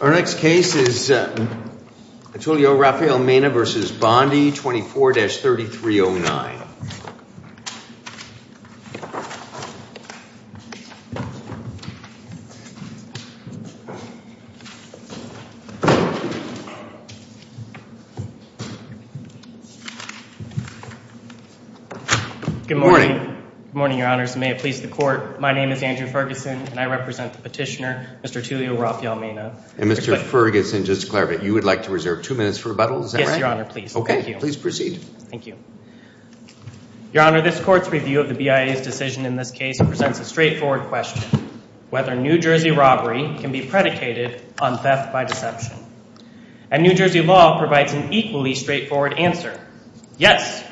Our next case is Atulio Rafael Mena v. Bondi, 24-3309. Good morning. Good morning, Your Honors. May it please the Court, my name is Andrew Ferguson and I represent the petitioner, Mr. Atulio Rafael Mena. And Mr. Ferguson, just to clarify, you would like to reserve two minutes for rebuttal? Is that right? Yes, Your Honor, please. Okay, please proceed. Thank you. Your Honor, this Court's review of the BIA's decision in this case presents a straightforward question, whether New Jersey robbery can be predicated on theft by deception. And New Jersey law provides an equally straightforward answer, yes,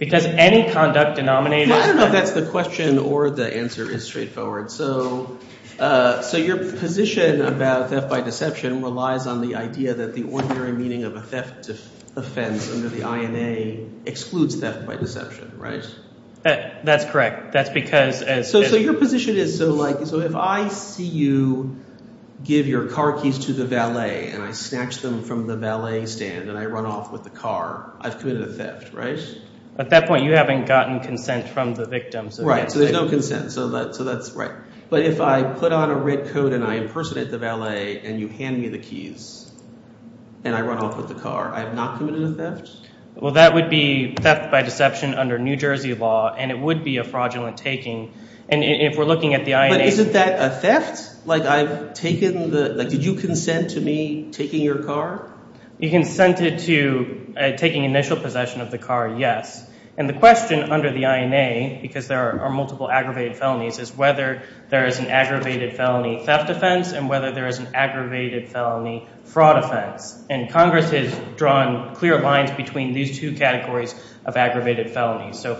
because any conduct denominated by That's the question or the answer is straightforward. So your position about theft by deception relies on the idea that the ordinary meaning of a theft offense under the INA excludes theft by deception, right? That's correct. That's because as So your position is so like – so if I see you give your car keys to the valet and I snatch them from the valet stand and I run off with the car, I've committed a theft, right? At that point you haven't gotten consent from the victim. Right, so there's no consent. So that's right. But if I put on a red coat and I impersonate the valet and you hand me the keys and I run off with the car, I have not committed a theft? Well, that would be theft by deception under New Jersey law, and it would be a fraudulent taking. And if we're looking at the INA But isn't that a theft? Like I've taken the – like did you consent to me taking your car? You consented to taking initial possession of the car, yes. And the question under the INA, because there are multiple aggravated felonies, is whether there is an aggravated felony theft offense and whether there is an aggravated felony fraud offense. And Congress has drawn clear lines between these two categories of aggravated felonies. No,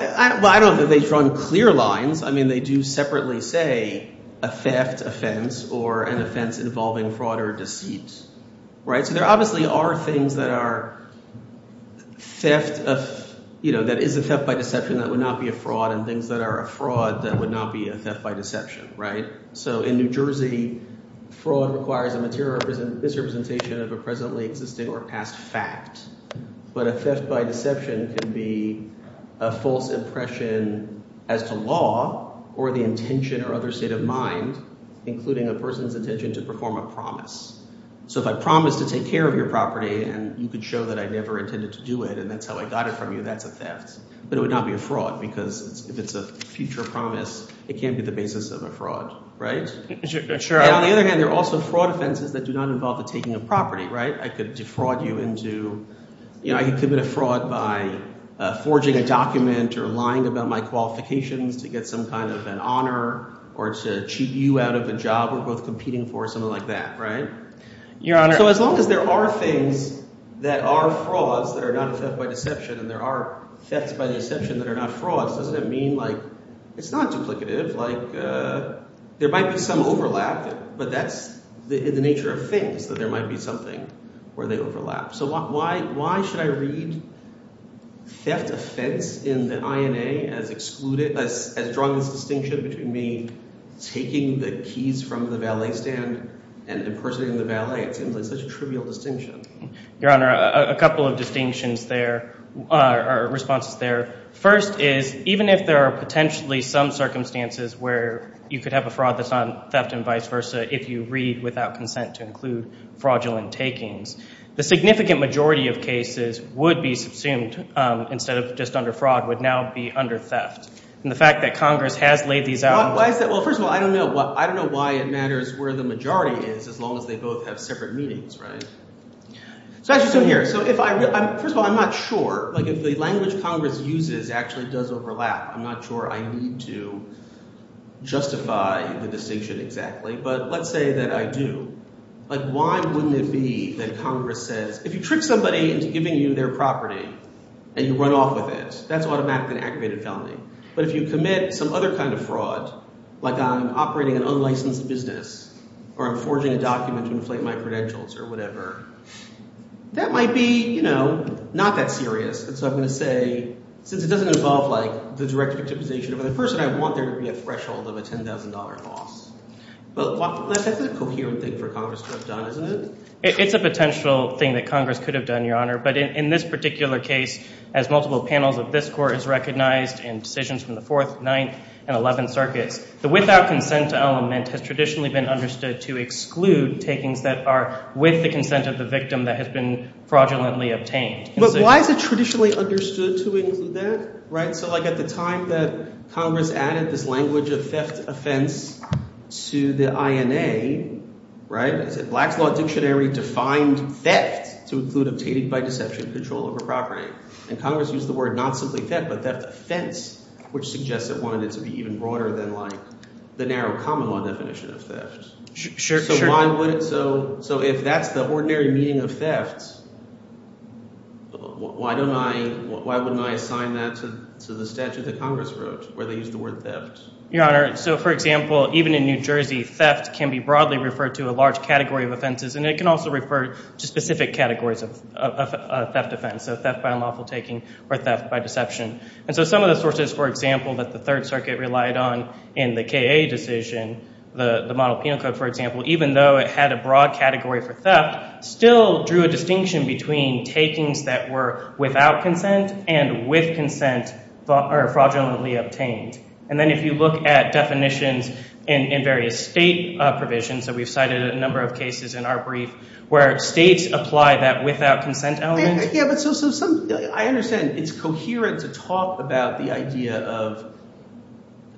I don't think they've drawn clear lines. I mean they do separately say a theft offense or an offense involving fraud or deceit. So there obviously are things that are theft – that is a theft by deception that would not be a fraud and things that are a fraud that would not be a theft by deception. So in New Jersey, fraud requires a material misrepresentation of a presently existing or past fact. But a theft by deception can be a false impression as to law or the intention or other state of mind, including a person's intention to perform a promise. So if I promise to take care of your property and you could show that I never intended to do it and that's how I got it from you, that's a theft. But it would not be a fraud because if it's a future promise, it can't be the basis of a fraud. And on the other hand, there are also fraud offenses that do not involve the taking of property. I could defraud you into – I could commit a fraud by forging a document or lying about my qualifications to get some kind of an honor or to cheat you out of a job we're both competing for or something like that. So as long as there are things that are frauds that are not a theft by deception and there are thefts by deception that are not frauds, doesn't it mean like – it's not duplicative. Like there might be some overlap, but that's the nature of things, that there might be something where they overlap. So why should I read theft offense in the INA as drawing this distinction between me taking the keys from the valet stand and impersonating the valet? It seems like such a trivial distinction. Your Honor, a couple of distinctions there – or responses there. First is even if there are potentially some circumstances where you could have a fraud that's not theft and vice versa if you read without consent to include fraudulent takings. The significant majority of cases would be subsumed instead of just under fraud, would now be under theft. And the fact that Congress has laid these out – Well, first of all, I don't know why it matters where the majority is as long as they both have separate meanings, right? So I just assume here – so if I – first of all, I'm not sure. Like if the language Congress uses actually does overlap, I'm not sure I need to justify the distinction exactly. But let's say that I do. Like why wouldn't it be that Congress says if you trick somebody into giving you their property and you run off with it, that's automatically an aggravated felony. But if you commit some other kind of fraud, like I'm operating an unlicensed business or I'm forging a document to inflate my credentials or whatever, that might be not that serious. And so I'm going to say since it doesn't involve like the direct victimization of the person, I want there to be a threshold of a $10,000 loss. But that's a coherent thing for Congress to have done, isn't it? It's a potential thing that Congress could have done, Your Honor. But in this particular case, as multiple panels of this court has recognized in decisions from the Fourth, Ninth, and Eleventh Circuits, the without consent element has traditionally been understood to exclude takings that are with the consent of the victim that has been fraudulently obtained. But why is it traditionally understood to include that? So like at the time that Congress added this language of theft offense to the INA, the Blacks Law Dictionary defined theft to include obtaining by deception control over property. And Congress used the word not simply theft but theft offense, which suggests it wanted it to be even broader than like the narrow common law definition of theft. So why would – so if that's the ordinary meaning of theft, why don't I – why wouldn't I assign that to the statute that Congress wrote where they used the word theft? Your Honor, so for example, even in New Jersey, theft can be broadly referred to a large category of offenses, and it can also refer to specific categories of theft offense. So theft by unlawful taking or theft by deception. And so some of the sources, for example, that the Third Circuit relied on in the KA decision, the Model Penal Code, for example, even though it had a broad category for theft, still drew a distinction between takings that were without consent and with consent fraudulently obtained. And then if you look at definitions in various state provisions, so we've cited a number of cases in our brief where states apply that without consent element. I understand it's coherent to talk about the idea of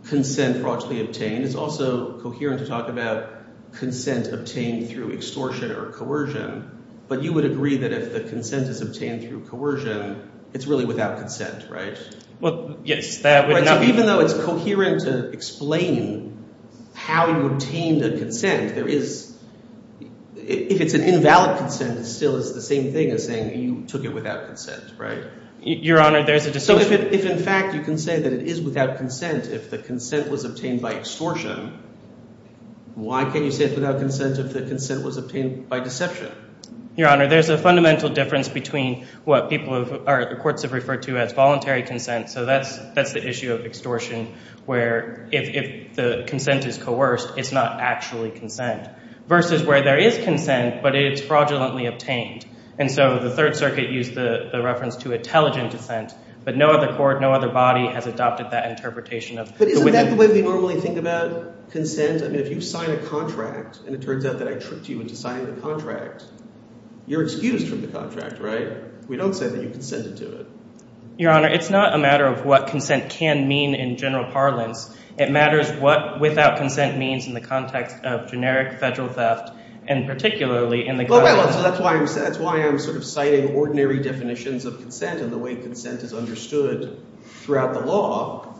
consent fraudulently obtained. It's also coherent to talk about consent obtained through extortion or coercion, but you would agree that if the consent is obtained through coercion, it's really without consent, right? Well, yes. Even though it's coherent to explain how you obtained a consent, if it's an invalid consent, it still is the same thing as saying you took it without consent, right? Your Honor, there's a distinction. So if in fact you can say that it is without consent if the consent was obtained by extortion, why can't you say it's without consent if the consent was obtained by deception? Your Honor, there's a fundamental difference between what people have – or the courts have referred to as voluntary consent. So that's the issue of extortion where if the consent is coerced, it's not actually consent versus where there is consent but it's fraudulently obtained. And so the Third Circuit used the reference to intelligent consent, but no other court, no other body has adopted that interpretation. But isn't that the way we normally think about consent? I mean if you sign a contract and it turns out that I tricked you into signing the contract, you're excused from the contract, right? We don't say that you consented to it. Your Honor, it's not a matter of what consent can mean in general parlance. It matters what without consent means in the context of generic federal theft and particularly in the context – Well, wait a minute. So that's why I'm sort of citing ordinary definitions of consent and the way consent is understood throughout the law.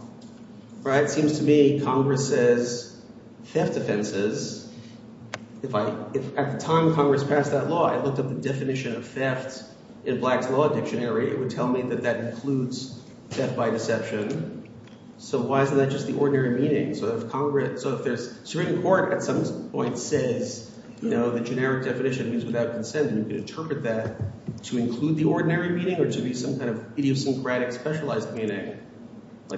It seems to me Congress says theft offenses. If I – if at the time Congress passed that law, I looked up the definition of theft in Black's Law Dictionary, it would tell me that that includes theft by deception. So why isn't that just the ordinary meaning? So if Congress – so if the Supreme Court at some point says the generic definition means without consent, we can interpret that to include the ordinary meaning or to be some kind of idiosyncratic specialized meaning.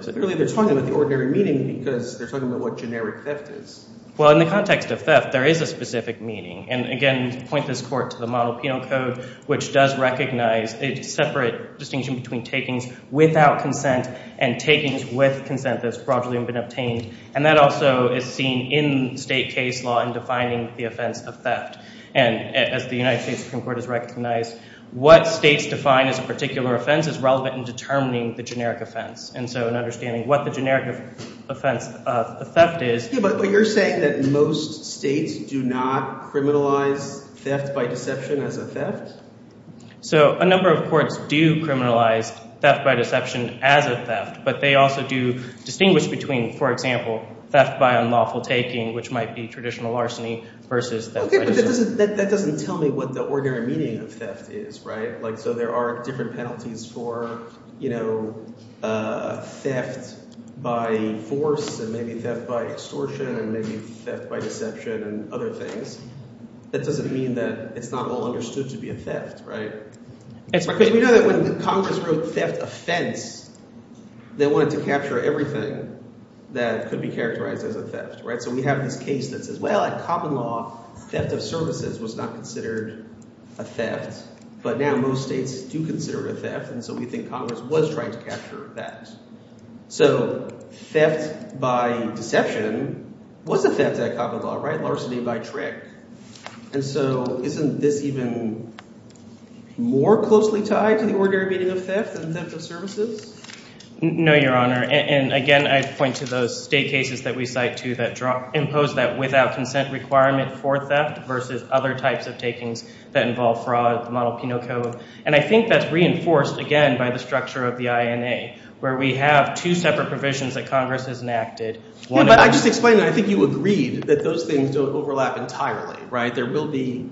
Really, they're talking about the ordinary meaning because they're talking about what generic theft is. Well, in the context of theft, there is a specific meaning. And again, to point this court to the Model Penal Code, which does recognize a separate distinction between takings without consent and takings with consent that has broadly been obtained. And that also is seen in state case law in defining the offense of theft. And as the United States Supreme Court has recognized, what states define as a particular offense is relevant in determining the generic offense. And so in understanding what the generic offense of theft is – But you're saying that most states do not criminalize theft by deception as a theft? So a number of courts do criminalize theft by deception as a theft, but they also do distinguish between, for example, theft by unlawful taking, which might be traditional arsony, versus theft by deception. That doesn't tell me what the ordinary meaning of theft is, right? So there are different penalties for theft by force and maybe theft by extortion and maybe theft by deception and other things. That doesn't mean that it's not all understood to be a theft, right? We know that when Congress wrote theft offense, they wanted to capture everything that could be characterized as a theft. So we have this case that says, well, at common law, theft of services was not considered a theft. But now most states do consider it a theft, and so we think Congress was trying to capture that. So theft by deception was a theft at common law, right? Larceny by trick. And so isn't this even more closely tied to the ordinary meaning of theft than theft of services? No, Your Honor. And again, I'd point to those state cases that we cite too that impose that without consent requirement for theft versus other types of takings that involve fraud, the Model Penal Code. And I think that's reinforced again by the structure of the INA where we have two separate provisions that Congress has enacted. But I just explained that. I think you agreed that those things don't overlap entirely, right? There will be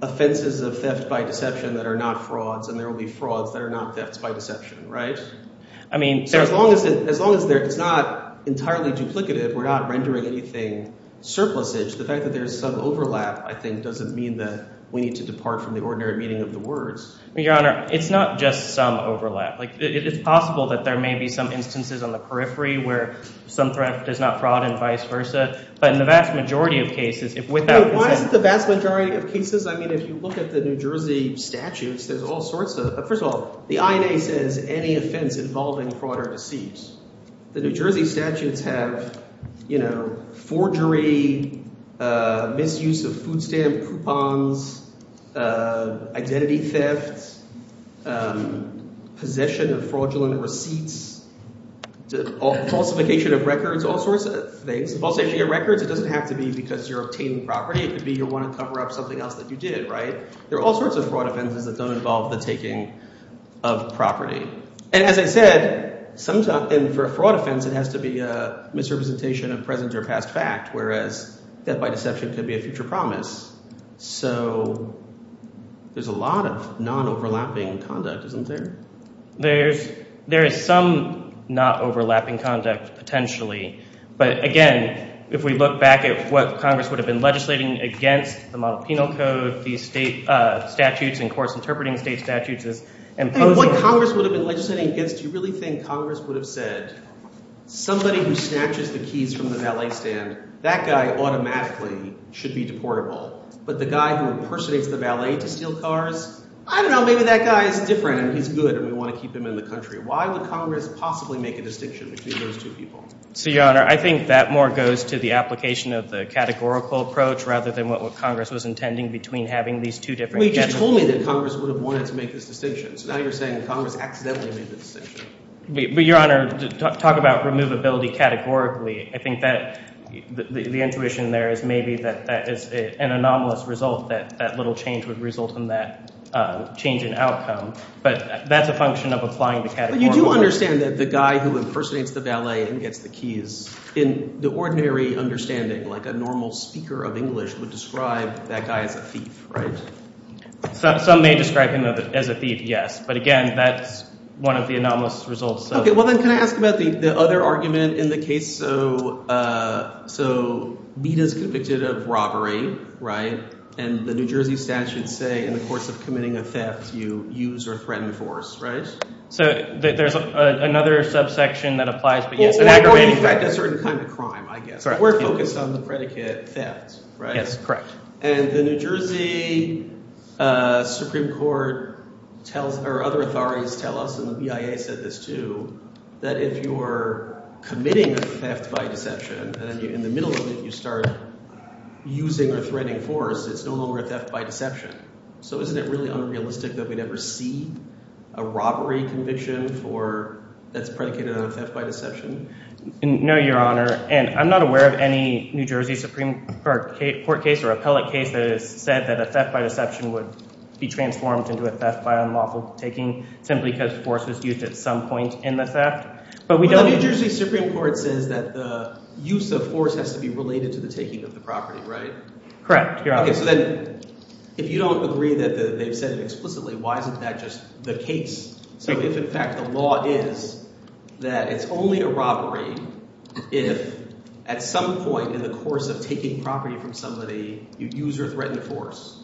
offenses of theft by deception that are not frauds, and there will be frauds that are not thefts by deception, right? So as long as it's not entirely duplicative, we're not rendering anything surplusage, the fact that there's some overlap I think doesn't mean that we need to depart from the ordinary meaning of the words. Your Honor, it's not just some overlap. It's possible that there may be some instances on the periphery where some threat does not fraud and vice versa. But in the vast majority of cases, if without consent— Wait, why is it the vast majority of cases? I mean if you look at the New Jersey statutes, there's all sorts of – first of all, the INA says any offense involving fraud or deceit. The New Jersey statutes have forgery, misuse of food stamp coupons, identity theft, possession of fraudulent receipts, falsification of records, all sorts of things. Falsification of records, it doesn't have to be because you're obtaining property. It could be you want to cover up something else that you did, right? There are all sorts of fraud offenses that don't involve the taking of property. And as I said, sometimes – and for a fraud offense, it has to be a misrepresentation of present or past fact, whereas theft by deception could be a future promise. So there's a lot of non-overlapping conduct, isn't there? There is some non-overlapping conduct potentially, but again, if we look back at what Congress would have been legislating against, the Model Penal Code, the state statutes and course interpreting state statutes as imposing— But what Congress would have been legislating against, you really think Congress would have said, somebody who snatches the keys from the valet stand, that guy automatically should be deportable. But the guy who impersonates the valet to steal cars, I don't know, maybe that guy is different and he's good and we want to keep him in the country. Why would Congress possibly make a distinction between those two people? So, Your Honor, I think that more goes to the application of the categorical approach rather than what Congress was intending between having these two different— Well, you just told me that Congress would have wanted to make this distinction. So now you're saying that Congress accidentally made the distinction. But, Your Honor, talk about removability categorically. I think that the intuition there is maybe that that is an anomalous result, that that little change would result in that change in outcome. But that's a function of applying the categorical— I understand that the guy who impersonates the valet and gets the keys, in the ordinary understanding, like a normal speaker of English would describe that guy as a thief, right? Some may describe him as a thief, yes. But again, that's one of the anomalous results of— Well, then can I ask about the other argument in the case? So Bita is convicted of robbery, right? And the New Jersey statute say in the course of committing a theft, you use or threaten force, right? So there's another subsection that applies, but yes— Well, in fact, a certain kind of crime, I guess. We're focused on the predicate theft, right? Yes, correct. And the New Jersey Supreme Court tells—or other authorities tell us, and the BIA said this too, that if you're committing a theft by deception and in the middle of it you start using or threatening force, it's no longer a theft by deception. So isn't it really unrealistic that we'd ever see a robbery conviction for—that's predicated on a theft by deception? No, Your Honor. And I'm not aware of any New Jersey Supreme Court case or appellate case that has said that a theft by deception would be transformed into a theft by unlawful taking simply because force was used at some point in the theft. But we don't— Well, the New Jersey Supreme Court says that the use of force has to be related to the taking of the property, right? Correct, Your Honor. Okay, so then if you don't agree that they've said it explicitly, why isn't that just the case? So if, in fact, the law is that it's only a robbery if at some point in the course of taking property from somebody you use or threaten force,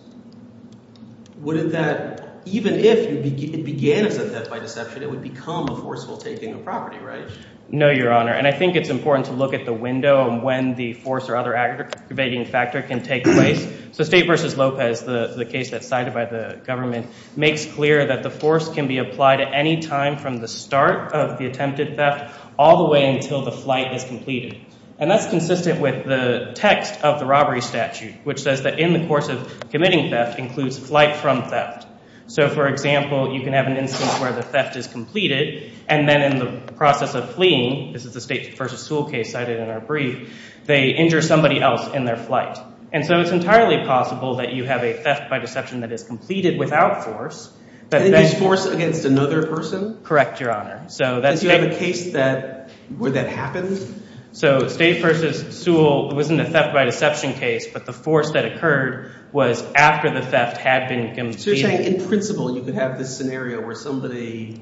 wouldn't that—even if it began as a theft by deception, it would become a forceful taking of property, right? No, Your Honor. And I think it's important to look at the window of when the force or other aggravating factor can take place. So State v. Lopez, the case that's cited by the government, makes clear that the force can be applied at any time from the start of the attempted theft all the way until the flight is completed. And that's consistent with the text of the robbery statute, which says that in the course of committing theft includes flight from theft. So, for example, you can have an instance where the theft is completed, and then in the process of fleeing—this is the State v. Sewell case cited in our brief—they injure somebody else in their flight. And so it's entirely possible that you have a theft by deception that is completed without force. Then there's force against another person? Correct, Your Honor. Because you have a case where that happens? So State v. Sewell, it wasn't a theft by deception case, but the force that occurred was after the theft had been completed. So you're saying in principle you could have this scenario where somebody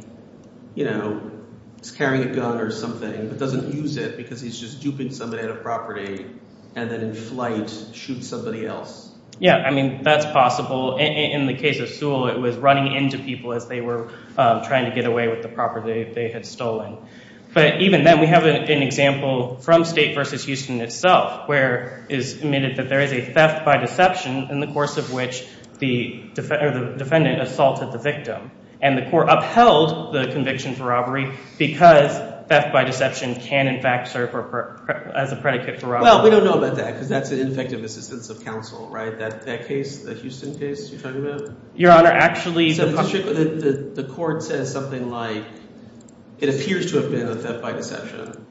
is carrying a gun or something but doesn't use it because he's just duping somebody on a property and then in flight shoots somebody else? Yeah, I mean that's possible. In the case of Sewell, it was running into people as they were trying to get away with the property they had stolen. But even then we have an example from State v. Houston itself where it's admitted that there is a theft by deception in the course of which the defendant assaulted the victim. And the court upheld the conviction for robbery because theft by deception can in fact serve as a predicate for robbery. Well, we don't know about that because that's an ineffective assistance of counsel, right? That case, that Houston case you're talking about? Your Honor, actually— The court says something like it appears to have been a theft by deception,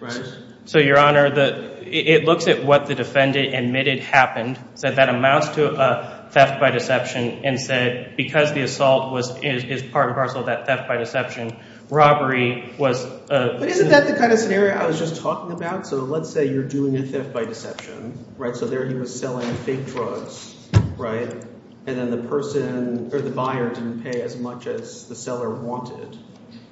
right? So Your Honor, it looks at what the defendant admitted happened, said that amounts to a theft by deception, and said because the assault is part and parcel of that theft by deception, robbery was— But isn't that the kind of scenario I was just talking about? So let's say you're doing a theft by deception, right? So there he was selling fake drugs, right? And then the person or the buyer didn't pay as much as the seller wanted.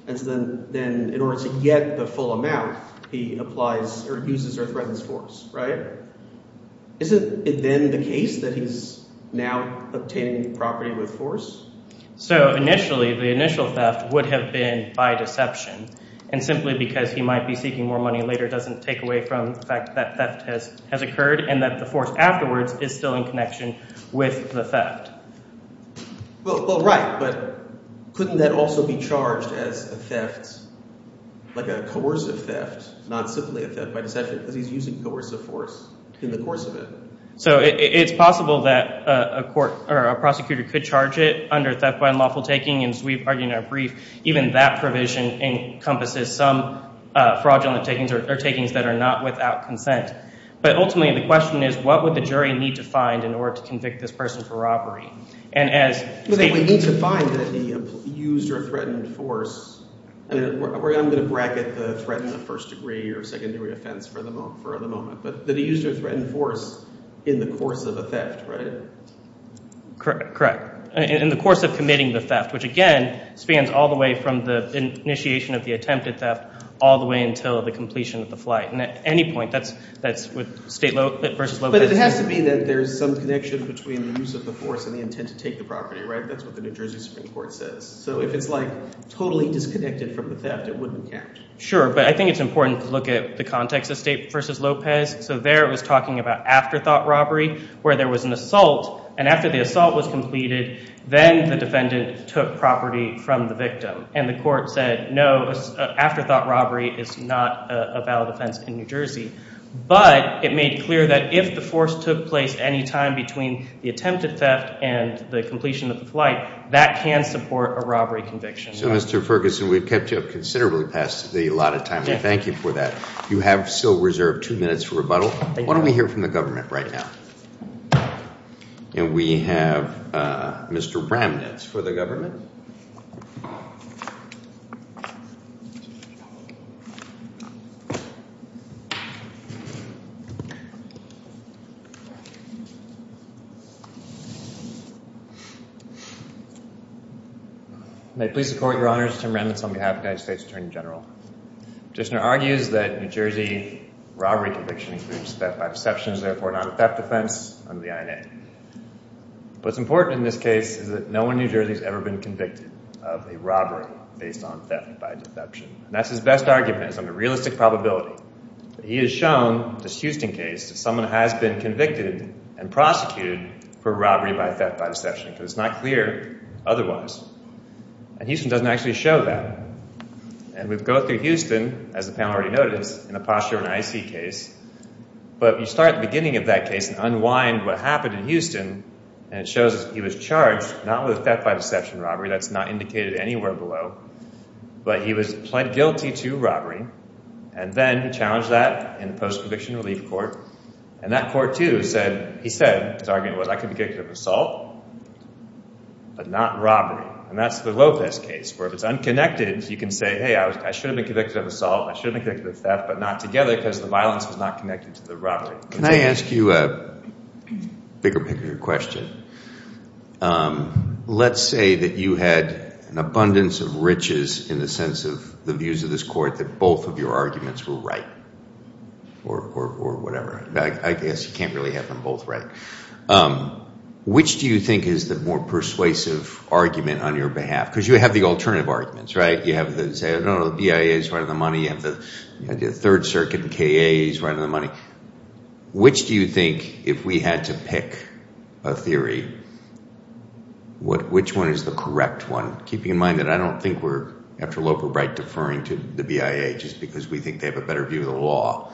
And so then in order to get the full amount, he applies or uses or threatens force, right? Isn't it then the case that he's now obtaining property with force? So initially, the initial theft would have been by deception, and simply because he might be seeking more money later doesn't take away from the fact that that theft has occurred and that the force afterwards is still in connection with the theft. Well, right, but couldn't that also be charged as a theft, like a coercive theft, not simply a theft by deception because he's using coercive force in the course of it? So it's possible that a court or a prosecutor could charge it under theft by unlawful taking, and as we've argued in our brief, even that provision encompasses some fraudulent takings or takings that are not without consent. But ultimately the question is what would the jury need to find in order to convict this person for robbery? We need to find that he used or threatened force. I'm going to bracket the threat in the first degree or secondary offense for the moment. But that he used or threatened force in the course of a theft, right? Correct. In the course of committing the theft, which again spans all the way from the initiation of the attempted theft all the way until the completion of the flight. And at any point, that's with state versus local. But it has to be that there's some connection between the use of the force and the intent to take the property, right? That's what the New Jersey Supreme Court says. So if it's like totally disconnected from the theft, it wouldn't count. Sure, but I think it's important to look at the context of state versus Lopez. So there it was talking about afterthought robbery where there was an assault, and after the assault was completed, then the defendant took property from the victim. And the court said, no, afterthought robbery is not a valid offense in New Jersey. But it made clear that if the force took place any time between the attempted theft and the completion of the flight, that can support a robbery conviction. So, Mr. Ferguson, we've kept you up considerably past the allotted time. We thank you for that. You have still reserved two minutes for rebuttal. Why don't we hear from the government right now? And we have Mr. Ramnitz for the government. May it please the court, Your Honor, this is Tim Ramnitz on behalf of the United States Attorney General. The petitioner argues that New Jersey robbery conviction includes theft by deception, therefore not a theft offense under the INA. What's important in this case is that no one in New Jersey has ever been convicted of a robbery based on theft by deception. And that's his best argument, is under realistic probability. He has shown, this Houston case, that someone has been convicted and prosecuted for robbery by theft by deception because it's not clear otherwise. And Houston doesn't actually show that. And we go through Houston, as the panel already noted, in the posture in the IC case. But you start at the beginning of that case and unwind what happened in Houston, and it shows he was charged not with theft by deception robbery. That's not indicated anywhere below. But he was pled guilty to robbery. And then he challenged that in the post-conviction relief court. And that court, too, said, he said, his argument was, I could be convicted of assault but not robbery. And that's the Lopez case, where if it's unconnected, you can say, hey, I should have been convicted of assault, I should have been convicted of theft, but not together because the violence was not connected to the robbery. Can I ask you a bigger picture question? Let's say that you had an abundance of riches in the sense of the views of this court that both of your arguments were right or whatever. I guess you can't really have them both right. Which do you think is the more persuasive argument on your behalf? Because you have the alternative arguments, right? You have the BIAs running the money, you have the Third Circuit, the KAs running the money. Which do you think, if we had to pick a theory, which one is the correct one? Keeping in mind that I don't think we're, after Loper Bright, deferring to the BIA just because we think they have a better view of the law.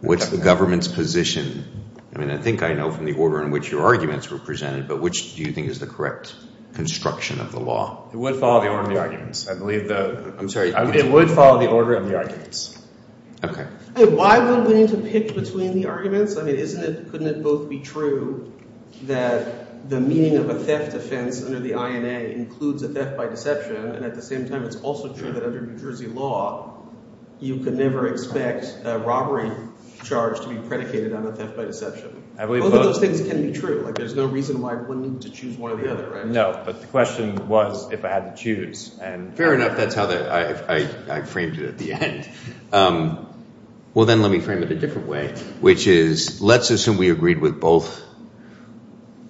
What's the government's position? I mean, I think I know from the order in which your arguments were presented, but which do you think is the correct construction of the law? It would follow the order of the arguments. I'm sorry. It would follow the order of the arguments. Okay. Why would we need to pick between the arguments? I mean, couldn't it both be true that the meaning of a theft offense under the INA includes a theft by deception? And at the same time, it's also true that under New Jersey law, you could never expect a robbery charge to be predicated on a theft by deception. Both of those things can be true. There's no reason why one needs to choose one or the other, right? No, but the question was if I had to choose. Fair enough. That's how I framed it at the end. Well, then let me frame it a different way, which is let's assume we agreed with both.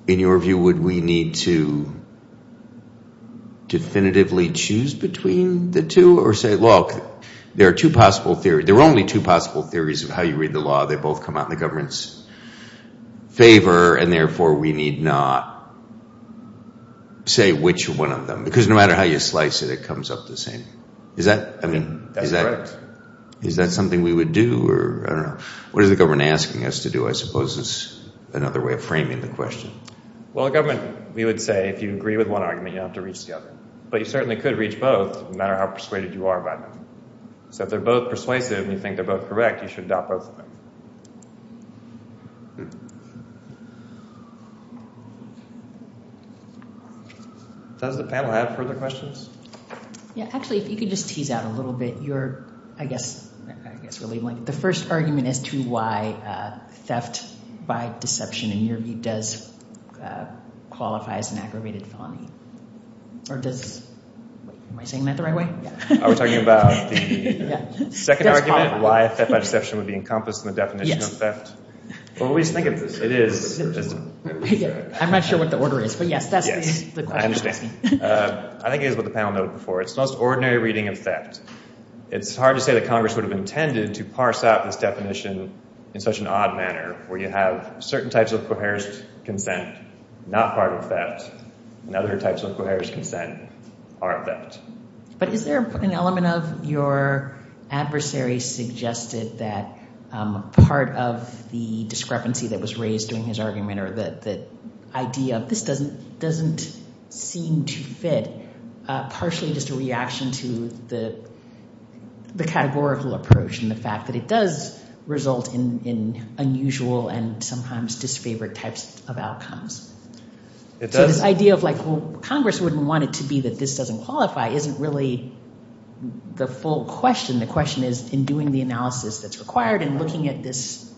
In your view, would we need to definitively choose between the two or say, look, there are two possible theories. There are only two possible theories of how you read the law. They both come out in the government's favor, and therefore we need not say which one of them. Because no matter how you slice it, it comes up the same. That's correct. Is that something we would do? I don't know. What is the government asking us to do, I suppose, is another way of framing the question. Well, the government, we would say, if you agree with one argument, you don't have to reach the other. But you certainly could reach both no matter how persuaded you are about them. So if they're both persuasive and you think they're both correct, you should adopt both. Does the panel have further questions? Yeah. Actually, if you could just tease out a little bit your, I guess, the first argument as to why theft by deception in your view does qualify as an aggravated felony. Or does, am I saying that the right way? Are we talking about the second argument, why theft by deception would be encompassed in the definition of theft? Yes. Well, we just think it is. I'm not sure what the order is, but yes, that's the question. I think it is what the panel noted before. It's the most ordinary reading of theft. It's hard to say that Congress would have intended to parse out this definition in such an odd manner, where you have certain types of coerced consent not part of theft, and other types of coerced consent are theft. But is there an element of your adversary suggested that part of the discrepancy that was raised during his argument or the idea of this doesn't seem to fit, partially just a reaction to the categorical approach and the fact that it does result in unusual and sometimes disfavored types of outcomes? So this idea of like, well, Congress wouldn't want it to be that this doesn't qualify isn't really the full question. The question is in doing the analysis that's required and looking at this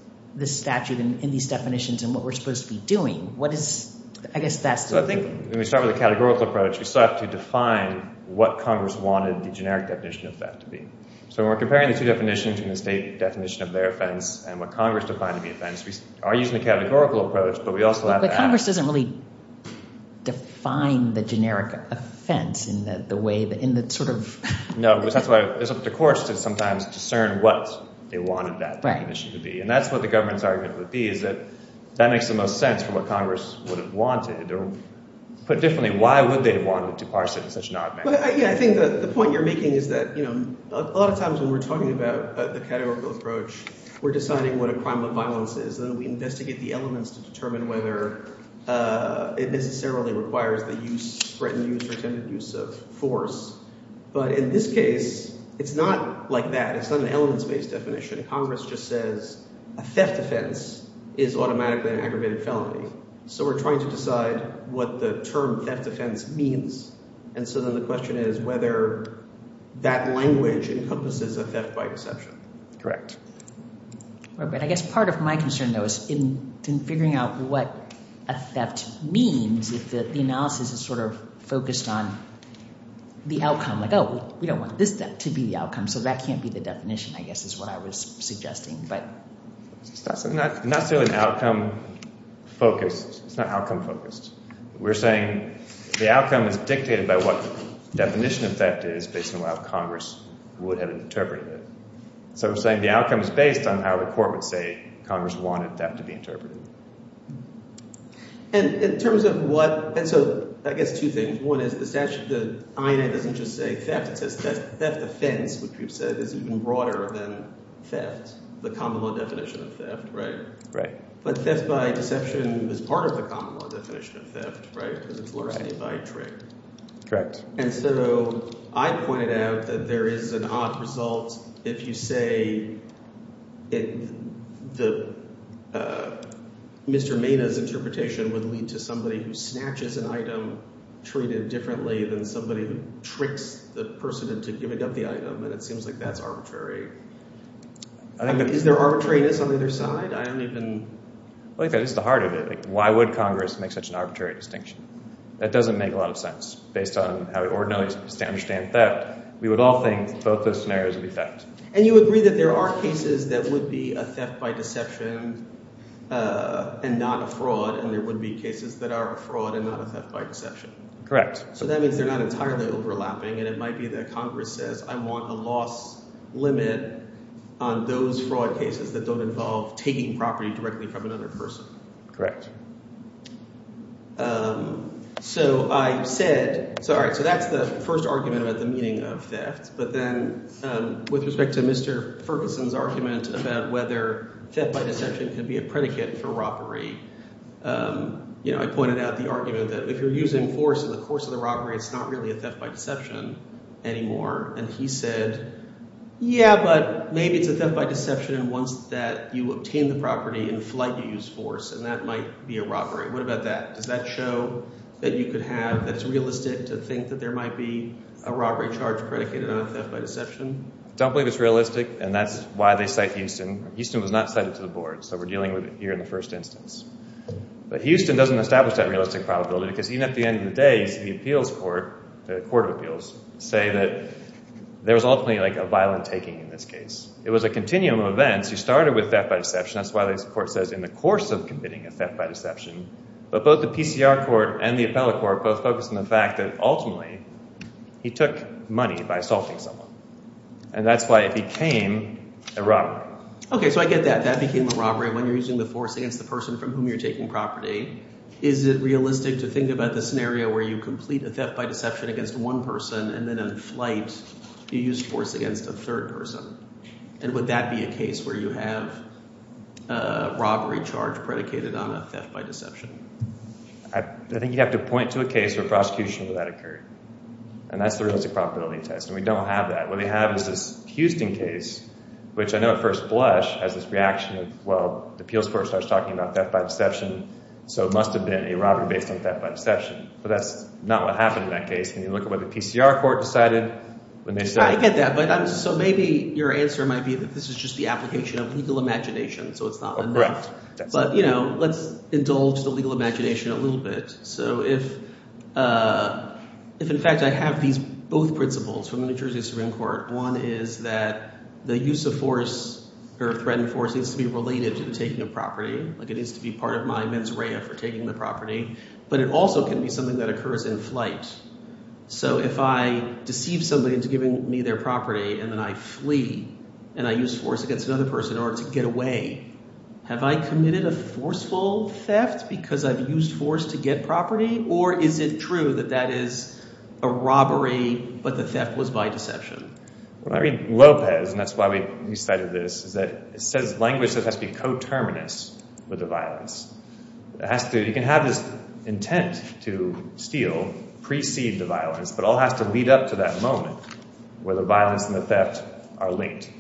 statute and these definitions and what we're supposed to be doing. What is, I guess that's the— So I think when we start with the categorical approach, we still have to define what Congress wanted the generic definition of theft to be. So when we're comparing the two definitions and the state definition of their offense and what Congress defined to be offense, we are using the categorical approach, but we also have to ask— But Congress doesn't really define the generic offense in the way that—in the sort of— No, because that's why it's up to courts to sometimes discern what they wanted that definition to be. And that's what the government's argument would be is that that makes the most sense for what Congress would have wanted. Or put differently, why would they have wanted to parse it in such an odd manner? But, yeah, I think the point you're making is that a lot of times when we're talking about the categorical approach, we're deciding what a crime of violence is. Then we investigate the elements to determine whether it necessarily requires the use—threatened use or intended use of force. But in this case, it's not like that. It's not an elements-based definition. Congress just says a theft offense is automatically an aggravated felony. So we're trying to decide what the term theft offense means. And so then the question is whether that language encompasses a theft by deception. But I guess part of my concern, though, is in figuring out what a theft means, if the analysis is sort of focused on the outcome. Like, oh, we don't want this theft to be the outcome, so that can't be the definition, I guess, is what I was suggesting. It's not necessarily outcome-focused. It's not outcome-focused. We're saying the outcome is dictated by what the definition of theft is based on what Congress would have interpreted it. So we're saying the outcome is based on how the court would say Congress wanted that to be interpreted. And in terms of what—and so I guess two things. One is the statute—the INA doesn't just say theft. It says theft offense, which we've said is even broader than theft, the common law definition of theft, right? But theft by deception is part of the common law definition of theft, right, because it's larceny by a trick. And so I pointed out that there is an odd result if you say Mr. Maina's interpretation would lead to somebody who snatches an item treated differently than somebody who tricks the person into giving up the item. And it seems like that's arbitrary. Is there arbitrariness on either side? I don't even— Why would Congress make such an arbitrary distinction? That doesn't make a lot of sense based on how we ordinarily understand theft. We would all think both those scenarios would be theft. And you agree that there are cases that would be a theft by deception and not a fraud, and there would be cases that are a fraud and not a theft by deception. Correct. So that means they're not entirely overlapping, and it might be that Congress says I want a loss limit on those fraud cases that don't involve taking property directly from another person. Correct. So I said – sorry. So that's the first argument about the meaning of theft. But then with respect to Mr. Ferguson's argument about whether theft by deception can be a predicate for robbery, I pointed out the argument that if you're using force in the course of the robbery, it's not really a theft by deception anymore. And he said, yeah, but maybe it's a theft by deception, and once that you obtain the property in flight, you use force, and that might be a robbery. What about that? Does that show that you could have – that it's realistic to think that there might be a robbery charge predicated on a theft by deception? I don't believe it's realistic, and that's why they cite Houston. Houston was not cited to the board, so we're dealing with it here in the first instance. But Houston doesn't establish that realistic probability because even at the end of the day, you see the appeals court, the court of appeals, say that there was ultimately a violent taking in this case. It was a continuum of events. You started with theft by deception. That's why the court says in the course of committing a theft by deception. But both the PCR court and the appellate court both focus on the fact that ultimately he took money by assaulting someone, and that's why it became a robbery. Okay, so I get that. That became a robbery when you're using the force against the person from whom you're taking property. Is it realistic to think about the scenario where you complete a theft by deception against one person and then in flight, you use force against a third person? And would that be a case where you have a robbery charge predicated on a theft by deception? I think you'd have to point to a case where prosecution of that occurred, and that's the realistic probability test, and we don't have that. What we have is this Houston case, which I know at first blush has this reaction of, well, the appeals court starts talking about theft by deception, so it must have been a robbery based on theft by deception. But that's not what happened in that case, and you look at what the PCR court decided when they said – I get that, but I'm – so maybe your answer might be that this is just the application of legal imagination, so it's not enough. But let's indulge the legal imagination a little bit. So if in fact I have these both principles from the New Jersey Supreme Court, one is that the use of force or threatened force needs to be related to the taking of property. It needs to be part of my mens rea for taking the property, but it also can be something that occurs in flight. So if I deceive somebody into giving me their property and then I flee and I use force against another person in order to get away, have I committed a forceful theft because I've used force to get property? Or is it true that that is a robbery, but the theft was by deception? Well, I read Lopez, and that's why we cited this, is that it says language that has to be coterminous with the violence. It has to – you can have this intent to steal precede the violence, but it all has to lead up to that moment where the violence and the theft are linked.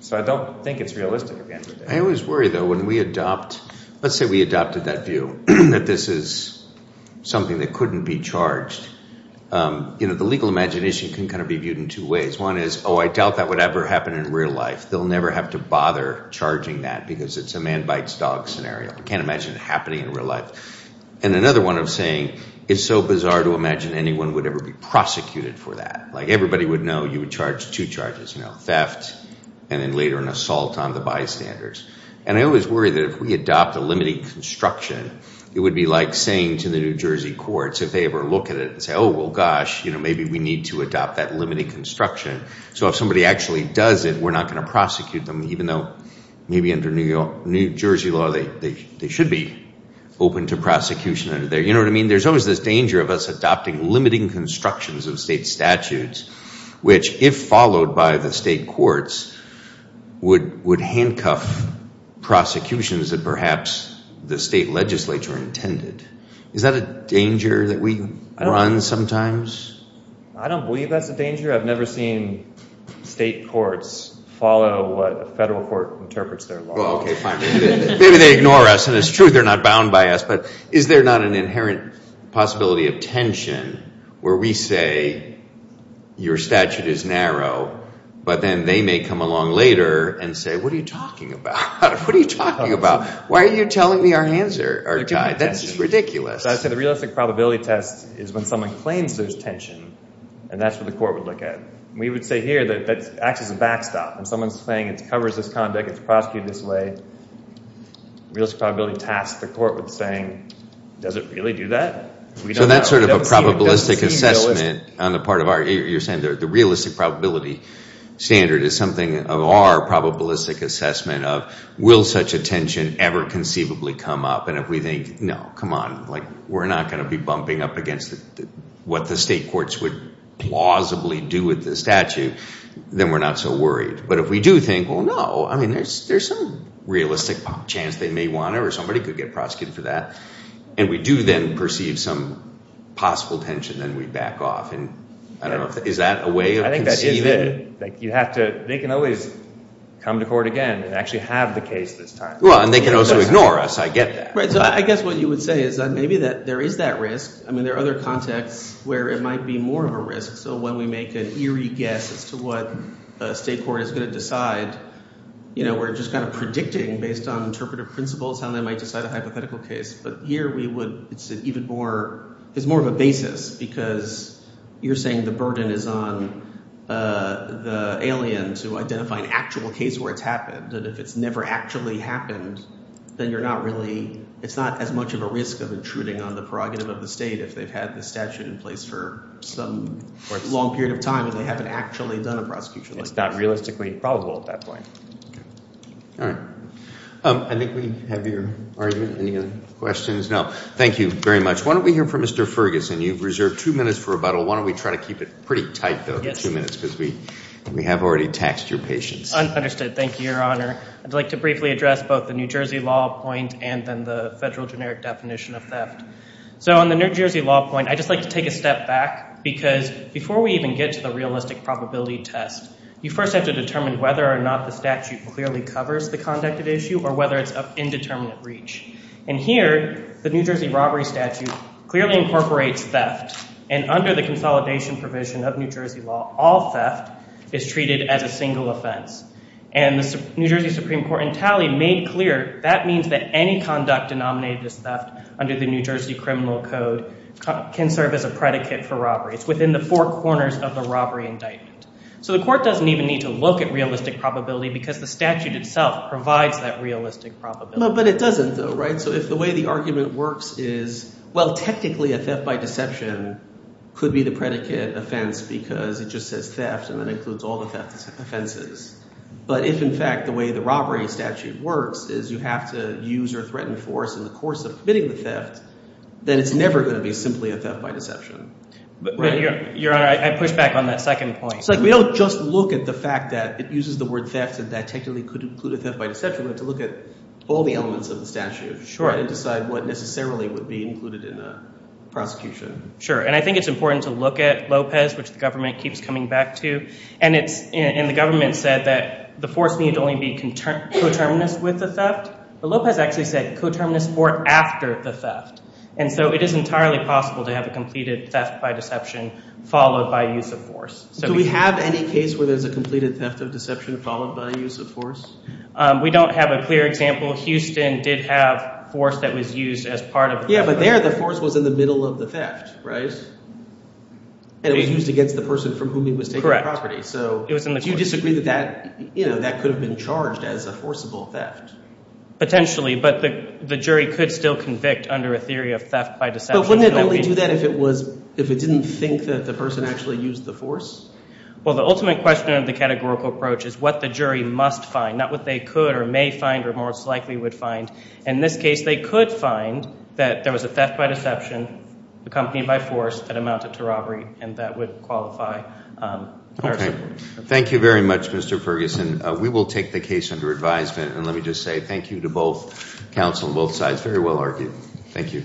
So I don't think it's realistic at the end of the day. I always worry, though, when we adopt – let's say we adopted that view that this is something that couldn't be charged. The legal imagination can kind of be viewed in two ways. One is, oh, I doubt that would ever happen in real life. They'll never have to bother charging that because it's a man bites dog scenario. You can't imagine it happening in real life. And another one of saying it's so bizarre to imagine anyone would ever be prosecuted for that. Like everybody would know you would charge two charges, theft and then later an assault on the bystanders. And I always worry that if we adopt a limiting construction, it would be like saying to the New Jersey courts, if they ever look at it and say, oh, well, gosh, maybe we need to adopt that limiting construction. So if somebody actually does it, we're not going to prosecute them, even though maybe under New Jersey law they should be open to prosecution under there. You know what I mean? There's always this danger of us adopting limiting constructions of state statutes, which if followed by the state courts, would handcuff prosecutions that perhaps the state legislature intended. Is that a danger that we run sometimes? I don't believe that's a danger. I've never seen state courts follow what a federal court interprets their law. Maybe they ignore us. And it's true they're not bound by us. But is there not an inherent possibility of tension where we say your statute is narrow, but then they may come along later and say, what are you talking about? What are you talking about? Why are you telling me our hands are tied? That's ridiculous. I say the realistic probability test is when someone claims there's tension. And that's what the court would look at. We would say here that that acts as a backstop. When someone's saying it covers this conduct, it's prosecuted this way, realistic probability test, the court would be saying, does it really do that? So that's sort of a probabilistic assessment on the part of our, you're saying the realistic probability standard is something of our probabilistic assessment of will such a tension ever conceivably come up? And if we think, no, come on, we're not going to be bumping up against what the state courts would plausibly do with the statute, then we're not so worried. But if we do think, well, no, I mean, there's some realistic chance they may want to or somebody could get prosecuted for that, and we do then perceive some possible tension, then we back off. And I don't know, is that a way of conceiving it? I think that is it. They can always come to court again and actually have the case this time. And they can also ignore us. I get that. So I guess what you would say is that maybe there is that risk. I mean, there are other contexts where it might be more of a risk. So when we make an eerie guess as to what a state court is going to decide, we're just kind of predicting based on interpretive principles how they might decide a hypothetical case. But here we would – it's even more – it's more of a basis because you're saying the burden is on the alien to identify an actual case where it's happened. That if it's never actually happened, then you're not really – it's not as much of a risk of intruding on the prerogative of the state if they've had the statute in place for some long period of time and they haven't actually done a prosecution like this. It's not realistically probable at that point. Okay. All right. I think we have your argument. Any other questions? No. Thank you very much. Why don't we hear from Mr. Ferguson? You've reserved two minutes for rebuttal. Why don't we try to keep it pretty tight though for two minutes because we have already taxed your patience. Understood. Thank you, Your Honor. I'd like to briefly address both the New Jersey law point and then the federal generic definition of theft. So on the New Jersey law point, I'd just like to take a step back because before we even get to the realistic probability test, you first have to determine whether or not the statute clearly covers the conducted issue or whether it's of indeterminate reach. And here, the New Jersey robbery statute clearly incorporates theft, and under the consolidation provision of New Jersey law, all theft is treated as a single offense. And the New Jersey Supreme Court in tally made clear that means that any conduct denominated as theft under the New Jersey criminal code can serve as a predicate for robbery. It's within the four corners of the robbery indictment. So the court doesn't even need to look at realistic probability because the statute itself provides that realistic probability. But it doesn't though, right? So if the way the argument works is, well, technically a theft by deception could be the predicate offense because it just says theft and then includes all the theft offenses. But if in fact the way the robbery statute works is you have to use or threaten force in the course of committing the theft, then it's never going to be simply a theft by deception. Your Honor, I push back on that second point. It's like we don't just look at the fact that it uses the word theft and that technically could include a theft by deception. We have to look at all the elements of the statute and decide what necessarily would be included in the prosecution. Sure, and I think it's important to look at Lopez, which the government keeps coming back to. And the government said that the force need only be coterminous with the theft. But Lopez actually said coterminous or after the theft. And so it is entirely possible to have a completed theft by deception followed by use of force. Do we have any case where there's a completed theft of deception followed by use of force? We don't have a clear example. Houston did have force that was used as part of the theft. Yeah, but there the force was in the middle of the theft, right? And it was used against the person from whom he was taking the property. So do you disagree that that could have been charged as a forcible theft? Potentially, but the jury could still convict under a theory of theft by deception. But wouldn't it only do that if it didn't think that the person actually used the force? Well, the ultimate question of the categorical approach is what the jury must find, not what they could or may find or most likely would find. In this case, they could find that there was a theft by deception accompanied by force that amounted to robbery, and that would qualify. Okay. Thank you very much, Mr. Ferguson. We will take the case under advisement. And let me just say thank you to both counsel on both sides. Very well argued. Thank you.